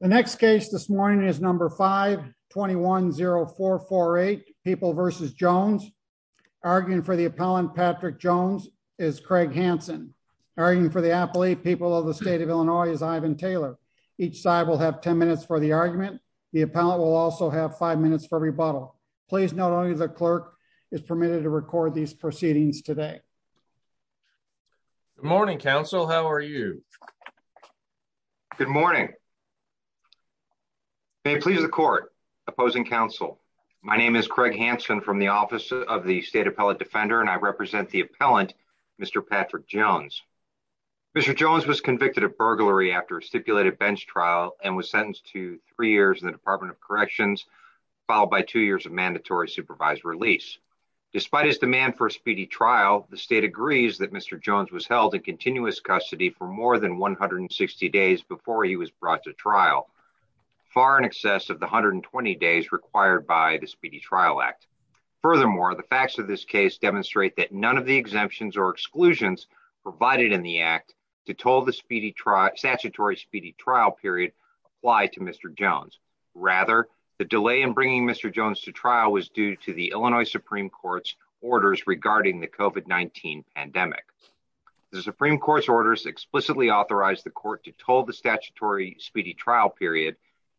The next case this morning is number 521 0448 people versus Jones arguing for the appellant. Patrick Jones is Craig Hanson arguing for the athlete. People of the state of Illinois is Ivan Taylor. Each side will have 10 minutes for the argument. The appellant will also have five minutes for rebuttal. Please. Not only the clerk is permitted to record these proceedings today. Morning, Council. How are you? Good morning. Okay. Please. The court opposing council. My name is Craig Hanson from the office of the state appellate defender, and I represent the appellant. Mr Patrick Jones. Mr Jones was convicted of burglary after a stipulated bench trial and was sentenced to three years in the Department of Corrections, followed by two years of mandatory supervised release. Despite his demand for a speedy trial, the state agrees that Mr Jones was held in continuous custody for more than 160 days before he was brought to trial, far in excess of the 120 days required by the Speedy Trial Act. Furthermore, the facts of this case demonstrate that none of the exemptions or exclusions provided in the act to told the speedy trial statutory speedy trial period apply to Mr Jones. Rather, the delay in bringing Mr Jones to trial was due to the Illinois Supreme Court's orders regarding the COVID-19 pandemic. The Supreme Court's orders explicitly authorized the court to told the statutory speedy trial period.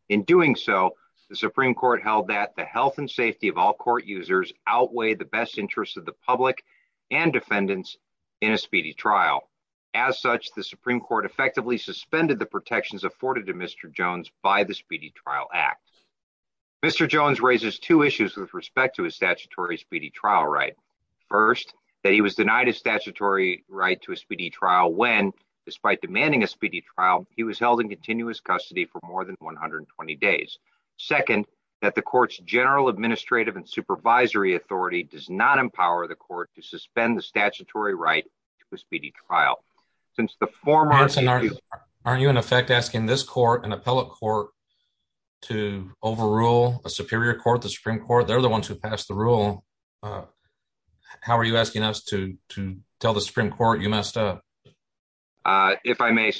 In doing so, the Supreme Court held that the health and safety of all court users outweigh the best interests of the public and defendants in a speedy trial. As such, the Supreme Court effectively suspended the protections afforded to Mr Jones by the Speedy Trial Act. Mr Jones raises two issues with respect to his statutory speedy trial when, despite demanding a speedy trial, he was held in continuous custody for more than 120 days. Second, that the court's general administrative and supervisory authority does not empower the court to suspend the statutory right to a speedy trial. Since the four months... Aren't you in effect asking this court, an appellate court, to overrule a superior court, the Supreme Court? They're the ones who passed the rule. Uh, how are you asking us to tell the Supreme Court you messed up? Uh, if I may,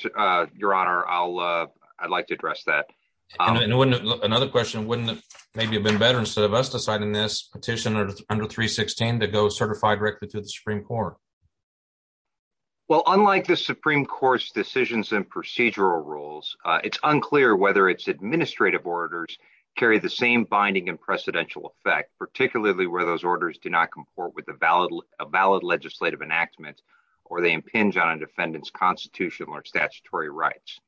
Your Honor, I'd like to address that. Another question, wouldn't it maybe have been better instead of us deciding this petition under 316 to go certified directly to the Supreme Court? Well, unlike the Supreme Court's decisions and procedural rules, it's unclear whether its administrative orders carry the same binding and precedential effect, particularly where those orders do not comport with the valid legislative enactment or they impinge on a defendant's constitutional or statutory rights.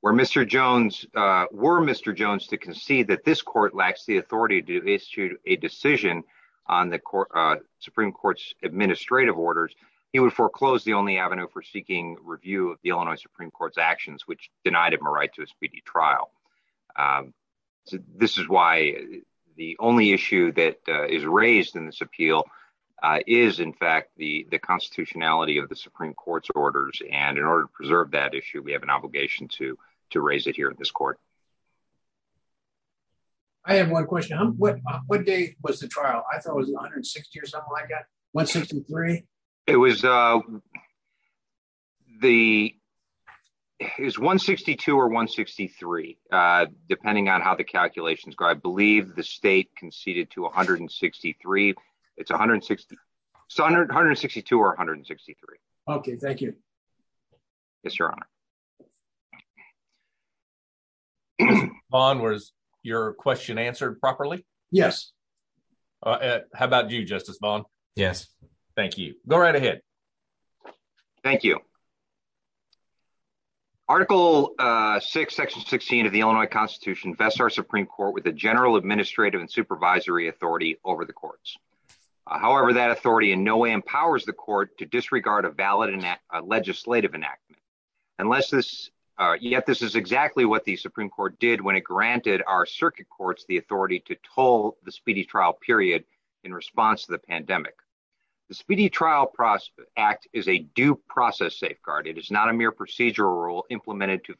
Where Mr. Jones... Were Mr. Jones to concede that this court lacks the authority to issue a decision on the Supreme Court's administrative orders, he would foreclose the only avenue for seeking review of the Illinois Supreme Court's actions, which denied him a right to a appeal is, in fact, the constitutionality of the Supreme Court's orders. And in order to preserve that issue, we have an obligation to raise it here in this court. I have one question. What day was the trial? I thought it was 160 or something like that. 163? It was, uh, the... It was 162 or 163, depending on how the calculations go. I believe the state conceded to 163. It's 160... 162 or 163. Okay, thank you. Yes, Your Honor. Vaughn, was your question answered properly? Yes. How about you, Justice Vaughn? Yes. Thank you. Go right ahead. Thank you. Article 6, Section 16 of the Illinois Constitution vests our Supreme Court with a general administrative and supervisory authority over the courts. However, that authority in no way empowers the court to disregard a valid enactment, a legislative enactment. Unless this... Yet this is exactly what the Supreme Court did when it granted our circuit courts the authority to toll the speedy trial period in response to the pandemic. The Speedy Trial Act is a due process safeguard. It is not a mere procedural rule implemented to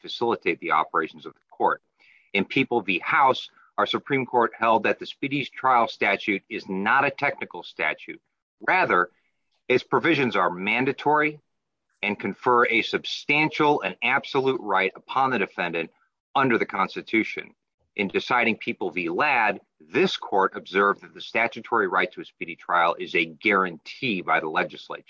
our Supreme Court held that the speedy trial statute is not a technical statute. Rather, its provisions are mandatory and confer a substantial and absolute right upon the defendant under the Constitution. In deciding People v. Ladd, this court observed that the statutory right to a speedy trial is a guarantee by the legislature.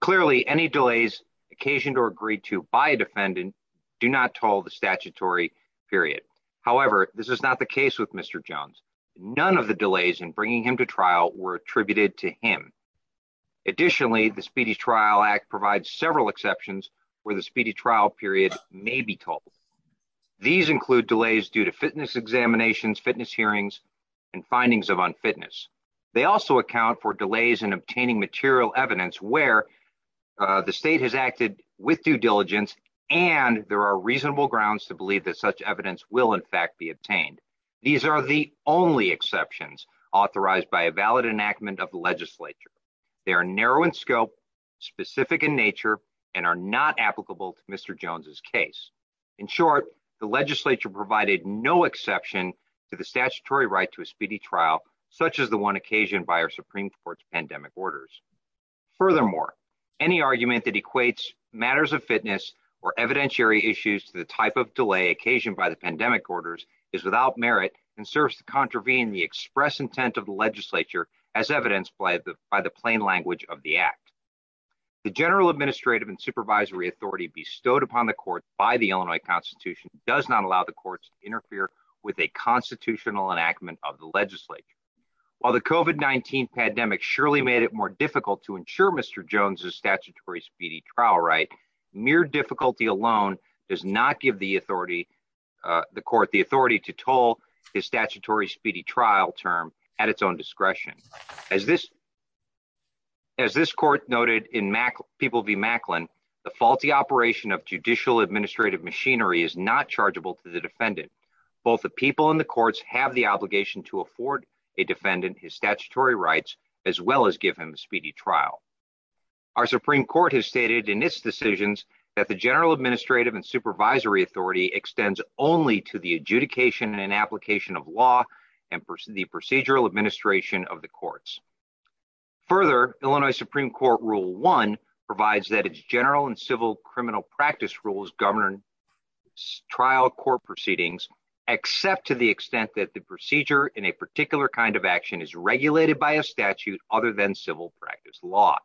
Clearly, any delays occasioned or agreed to by defendant do not toll the statutory period. However, this is not the case with Mr. Jones. None of the delays in bringing him to trial were attributed to him. Additionally, the Speedy Trial Act provides several exceptions where the speedy trial period may be tolled. These include delays due to fitness examinations, fitness hearings, and findings of unfitness. They also account for delays in obtaining material evidence where the state has acted with due diligence and there are reasonable grounds to believe that such evidence will in fact be obtained. These are the only exceptions authorized by a valid enactment of the legislature. They are narrow in scope, specific in nature, and are not applicable to Mr. Jones's case. In short, the legislature provided no exception to the statutory right to a speedy trial such as the one occasioned by our Supreme Court's pandemic orders. Furthermore, any argument that equates matters of fitness or evidentiary issues to the type of delay occasioned by the pandemic orders is without merit and serves to contravene the express intent of the legislature as evidenced by the plain language of the act. The general administrative and supervisory authority bestowed upon the court by the Illinois Constitution does not allow the courts to interfere with a constitutional enactment of the legislature. While the COVID-19 pandemic surely made it more difficult to ensure Mr. Jones's statutory speedy trial right, mere difficulty alone does not give the authority the court the authority to toll his statutory speedy trial term at its own discretion. As this as this court noted in People v. Macklin, the faulty operation of judicial administrative machinery is not chargeable to the defendant. Both the people in the courts have the obligation to afford a defendant his statutory rights as well as give him a speedy trial. Our Supreme Court has stated in its decisions that the general administrative and supervisory authority extends only to the adjudication and application of law and the procedural administration of the courts. Further, Illinois Supreme Court Rule 1 provides that its general and civil criminal practice rules govern trial court proceedings except to the extent that the procedure in a particular kind of action is regulated by a statute other than civil practice law.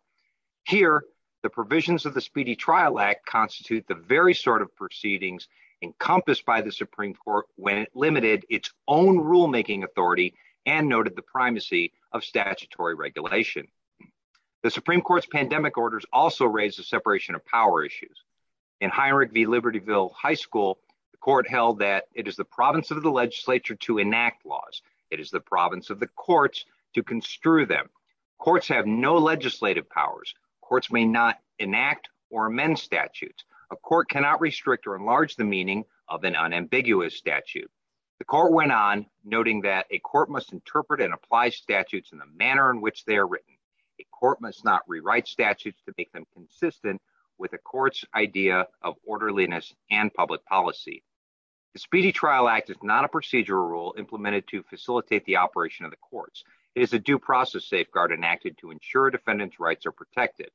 Here, the provisions of the Speedy Trial Act constitute the very sort of proceedings encompassed by the Supreme Court when it limited its own rulemaking authority and noted the primacy of statutory regulation. The Supreme Court's pandemic orders also raise the separation of power issues. In Heinrich v. Libertyville High School, the court held that it is the province of the legislature to enact laws. It is the province of the courts to construe them. Courts have no legislative powers. Courts may not enact or amend statutes. A court cannot restrict or enlarge the meaning of an unambiguous statute. The court went on noting that a court must interpret and apply statutes in the manner in which they are written. A court must not rewrite statutes to make them consistent with a court's idea of orderliness and public policy. The Speedy Trial Act is not a procedural rule implemented to facilitate the operation of the courts. It is a due process safeguard enacted to ensure defendants' rights are protected.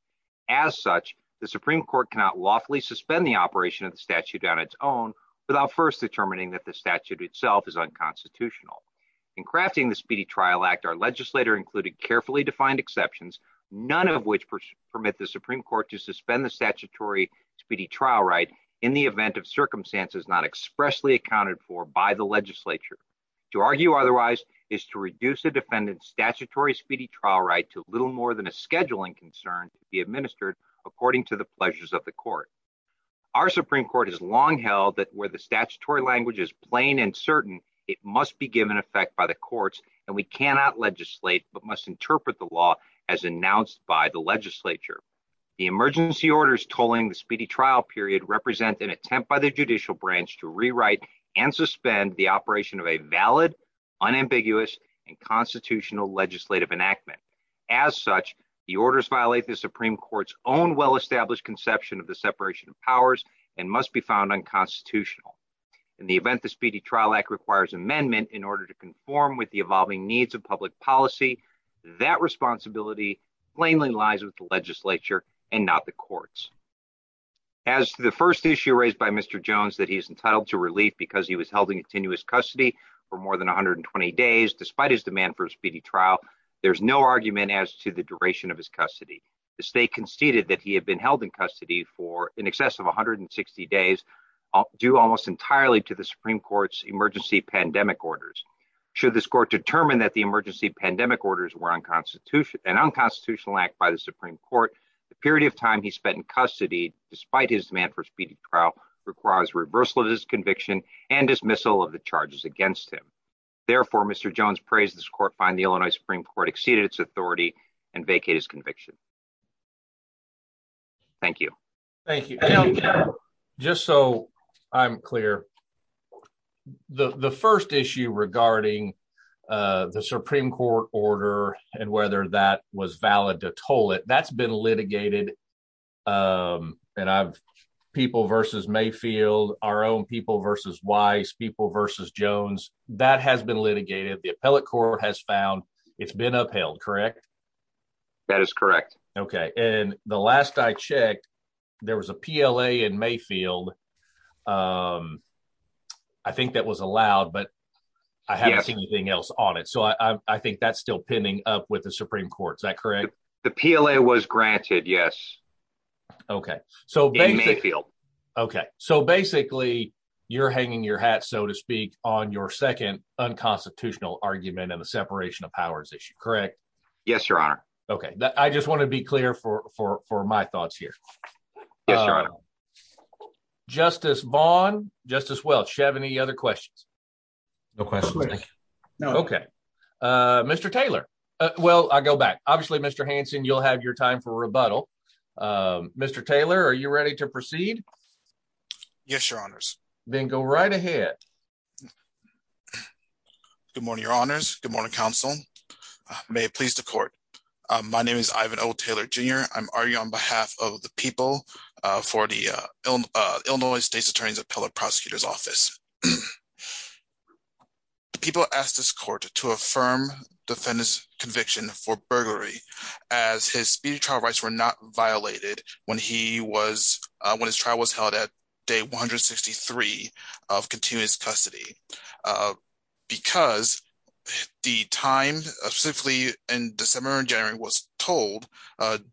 As such, the Supreme Court cannot lawfully suspend the operation of the statute on its own without first determining that the statute itself is unconstitutional. In crafting the Speedy Trial Act, our legislator included carefully defined exceptions, none of which permit the Supreme Court to suspend the statutory Speedy Trial right in the event of circumstances not expressly accounted for by the legislature. To argue otherwise is to reduce a defendant's statutory Speedy Trial right to little more than a scheduling concern to be administered according to the pleasures of the court. Our Supreme Court has long held that where the statutory language is plain and certain, it must be given effect by the courts and we cannot legislate but must interpret the law as announced by the legislature. The emergency orders tolling the Speedy Trial period represent an attempt by the judicial branch to rewrite and suspend the operation of a valid, unambiguous, and constitutional legislative enactment. As such, the orders violate the Supreme Court's own well-established conception of the separation of powers and must be found unconstitutional. In the event the Speedy Trial Act requires amendment in order to conform with the evolving needs of public policy, that responsibility plainly lies with the legislature and not the courts. As the first issue raised by Mr. Jones that he is entitled to continuous custody for more than 120 days despite his demand for Speedy Trial, there's no argument as to the duration of his custody. The state conceded that he had been held in custody for in excess of 160 days, due almost entirely to the Supreme Court's emergency pandemic orders. Should this court determine that the emergency pandemic orders were an unconstitutional act by the Supreme Court, the period of time he spent in custody despite his demand for Speedy Trial requires reversal of his charges against him. Therefore, Mr. Jones prays this court find the Illinois Supreme Court exceeded its authority and vacate his conviction. Thank you. Thank you. Just so I'm clear, the first issue regarding the Supreme Court order and whether that was valid to toll it, that's been litigated. People versus Mayfield, our own people versus Weiss, people versus Jones, that has been litigated. The appellate court has found it's been upheld, correct? That is correct. Okay, and the last I checked, there was a PLA in Mayfield. I think that was allowed, but I haven't seen anything else on it. So I think that's still pinning up with the Supreme Court. Is that correct? The PLA was granted. Yes. Okay. So basically, you're hanging your hat, so to speak, on your second unconstitutional argument and the separation of powers issue, correct? Yes, Your Honor. Okay, I just want to be clear for my thoughts here. Justice Vaughn, Justice Welch, do you have any other questions? No questions. Okay, Mr. Taylor. Well, I'll go back. Obviously, Mr. Hanson, you'll have your time for rebuttal. Mr. Taylor, are you ready to proceed? Yes, Your Honors. Then go right ahead. Good morning, Your Honors. Good morning, Counsel. May it please the Court. My name is Ivan O. Taylor, Jr. I'm arguing on behalf of the people for the Illinois State's Attorney's Appellate Prosecutor's Office. People ask this Court to affirm defendant's conviction for burglary as his speedy trial rights were not violated when his trial was held at day 163 of continuous custody because the time, specifically in December and January, was told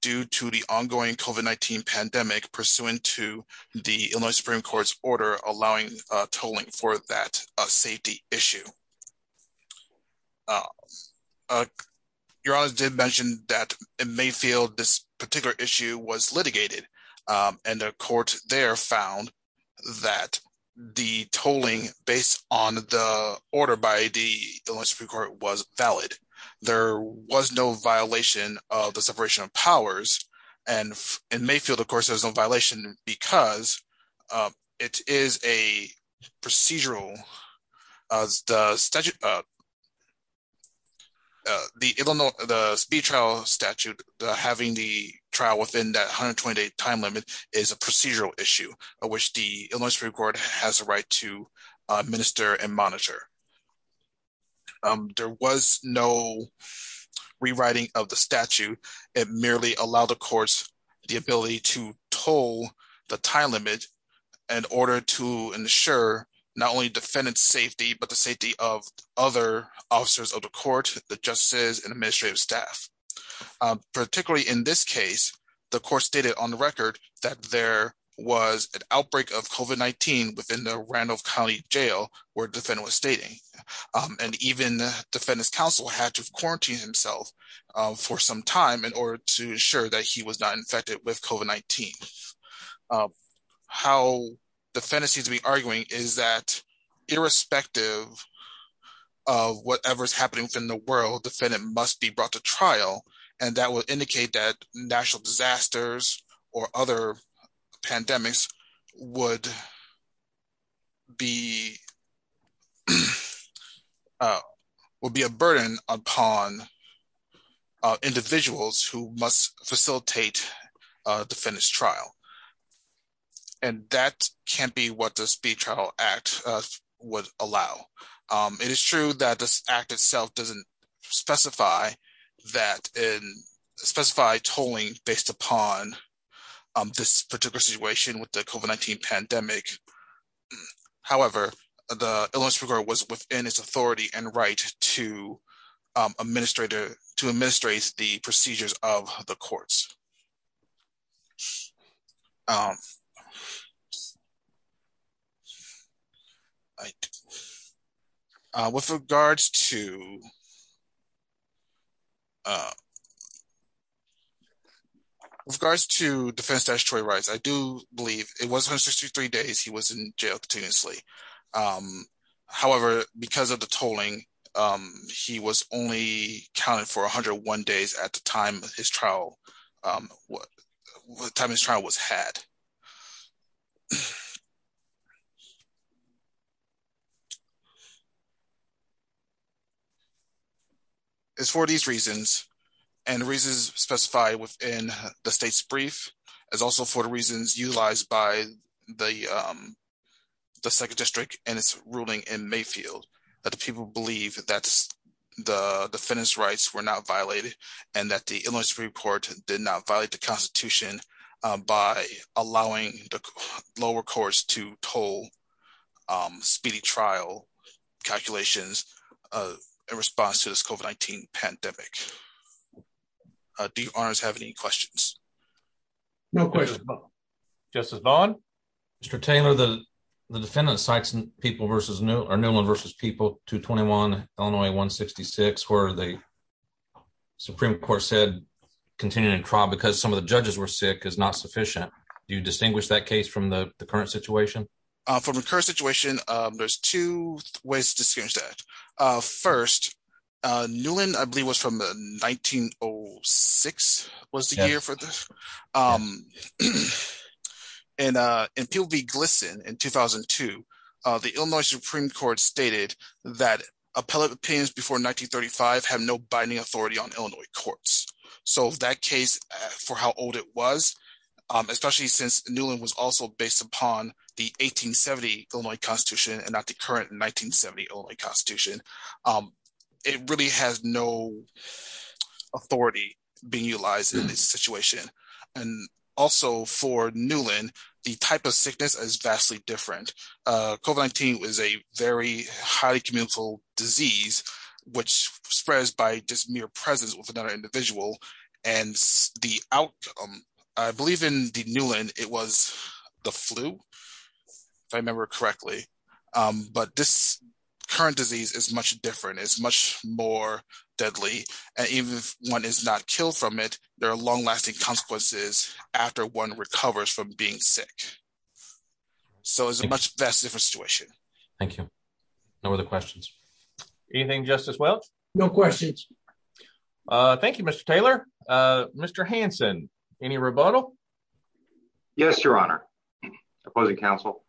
due to the ongoing COVID-19 pandemic pursuant to the Illinois Supreme Court's order allowing tolling for that safety issue. Your Honors did mention that in Mayfield this particular issue was litigated and the Court there found that the tolling based on the order by the Illinois Supreme Court was valid. There was no violation of the separation of powers and in Mayfield of course there was no violation because it is a procedural, the speedy trial statute, having the trial within that 128 time limit is a procedural issue of which the Illinois Supreme Court has a right to administer and monitor. There was no rewriting of the statute. It merely allowed the courts the ability to toll the time limit in order to ensure not only defendant's safety but the safety of other officers of the court, the justices, and administrative staff. Particularly in this case, the Court stated on the record that there was an outbreak of COVID-19 within the Randolph County Jail where the defendant was stating and even the Defendant's Counsel had to quarantine himself for some time in order to ensure that he was not infected with COVID-19. How the defendant seems to be arguing is that irrespective of whatever is happening within the world, the defendant must be brought to trial and that would indicate that national disasters or other pandemics would be a burden upon individuals who must facilitate defendant's trial. And that can't be what the speedy trial act would allow. It is true that this act itself doesn't specify tolling based upon this particular situation with the COVID-19 pandemic. However, the Illinois Superior Court was within its authority and right to administrate the procedures of the courts. With regards to defense statutory rights, I do believe it was 163 days he was in jail continuously. However, because of the tolling, he was only counted for 101 days at the time his trial was had. It's for these reasons and the reasons specified within the state's brief is also for the reasons utilized by the 2nd District and its ruling in Mayfield that the people believe that the defendant's rights were not violated and that the Illinois Superior Court did not violate the Constitution by allowing the lower courts to toll speedy trial calculations in response to this COVID-19 pandemic. Do you honors have any questions? No questions. Justice Vaughn? Mr. Taylor, the defendant cites Newland v. People, 221 Illinois 166 where the Supreme Court said continuing trial because some of the judges were sick is not sufficient. Do you distinguish that case from the current situation? From the current situation, there's two ways to distinguish that. First, Newland I believe was from 1906 was the year for this. In People v. Glisson in 2002, the Illinois Supreme Court stated that appellate opinions before 1935 have no binding authority on Illinois courts. So that case for how old it was, especially since Newland was also based upon the 1870 Illinois Constitution and not the current 1970 Illinois Constitution, it really has no authority being utilized in this situation. Also for Newland, the type of sickness is vastly different. COVID-19 was a very highly communicable disease which spreads by just mere presence with another individual. I believe in Newland it was the flu, if I remember correctly. But this current disease is much different. It's much more deadly. Even if one is not killed from it, there are long-lasting consequences after one recovers from being sick. So it's a much vastly different situation. Thank you. No other questions. Anything, Justice Welch? No questions. Thank you, Mr. Taylor. Mr. Hanson, any rebuttal? Yes, Your Honor. Opposing counsel?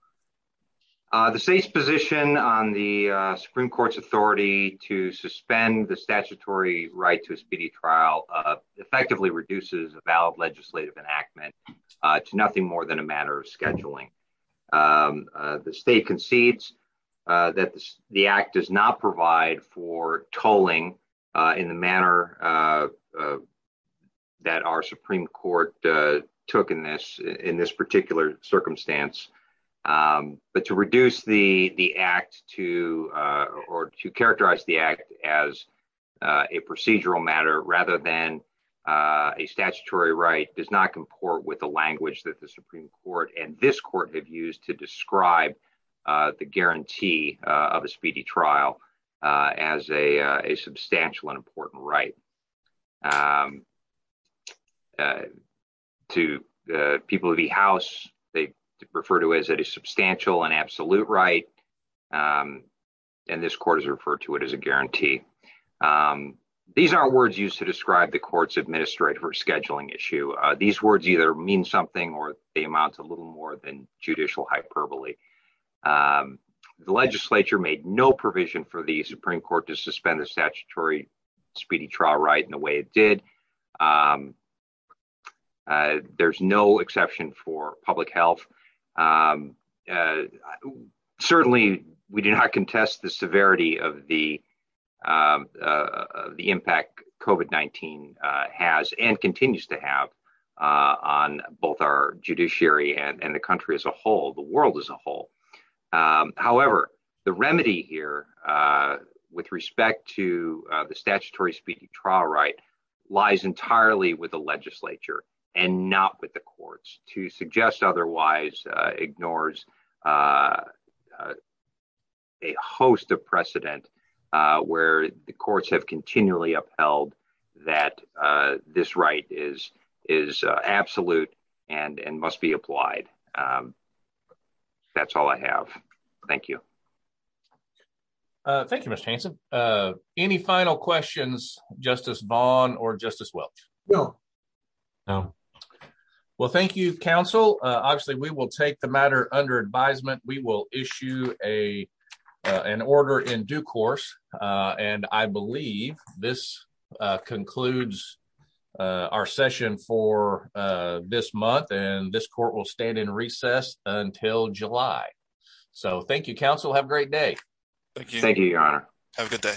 The State's position on the Supreme Court's authority to suspend the statutory right to a speedy trial effectively reduces a valid legislative enactment to nothing more than a matter of scheduling. The State concedes that the Act does not provide for tolling in the manner that our Supreme Court took in this particular circumstance. But to reduce the Act or to characterize the Act as a procedural matter rather than a statutory right does not comport with the language that the Supreme Court and this Court have used to describe the guarantee of a speedy trial as a substantial and important right. To the people of the House, they refer to it as a substantial and absolute right, and this Court has referred to it as a guarantee. These aren't words used to describe the Court's administrative or scheduling issue. These words either mean something or they amount to a little more than judicial hyperbole. The legislature made no provision for the Supreme Court to suspend the statutory speedy trial right in the way it did. There's no exception for public health. Certainly, we do not contest the severity of the impact COVID-19 has and continues to have on both our judiciary and the country as a whole, the world as a whole. However, the remedy here with respect to the statutory speedy trial right lies entirely with the legislature and not with the courts to suggest otherwise ignores a host of precedent where the courts have continually upheld that this right is absolute and must be applied. That's all I have. Thank you. Thank you, Mr. Hanson. Any final questions, Justice Vaughn or Justice Welch? No. Well, thank you, counsel. Obviously, we will take the matter under advisement. We will issue an order in due course, and I believe this concludes our session for this month. This court will stand in recess until July. Thank you, counsel. Have a great day. Thank you, Your Honor. Have a good day.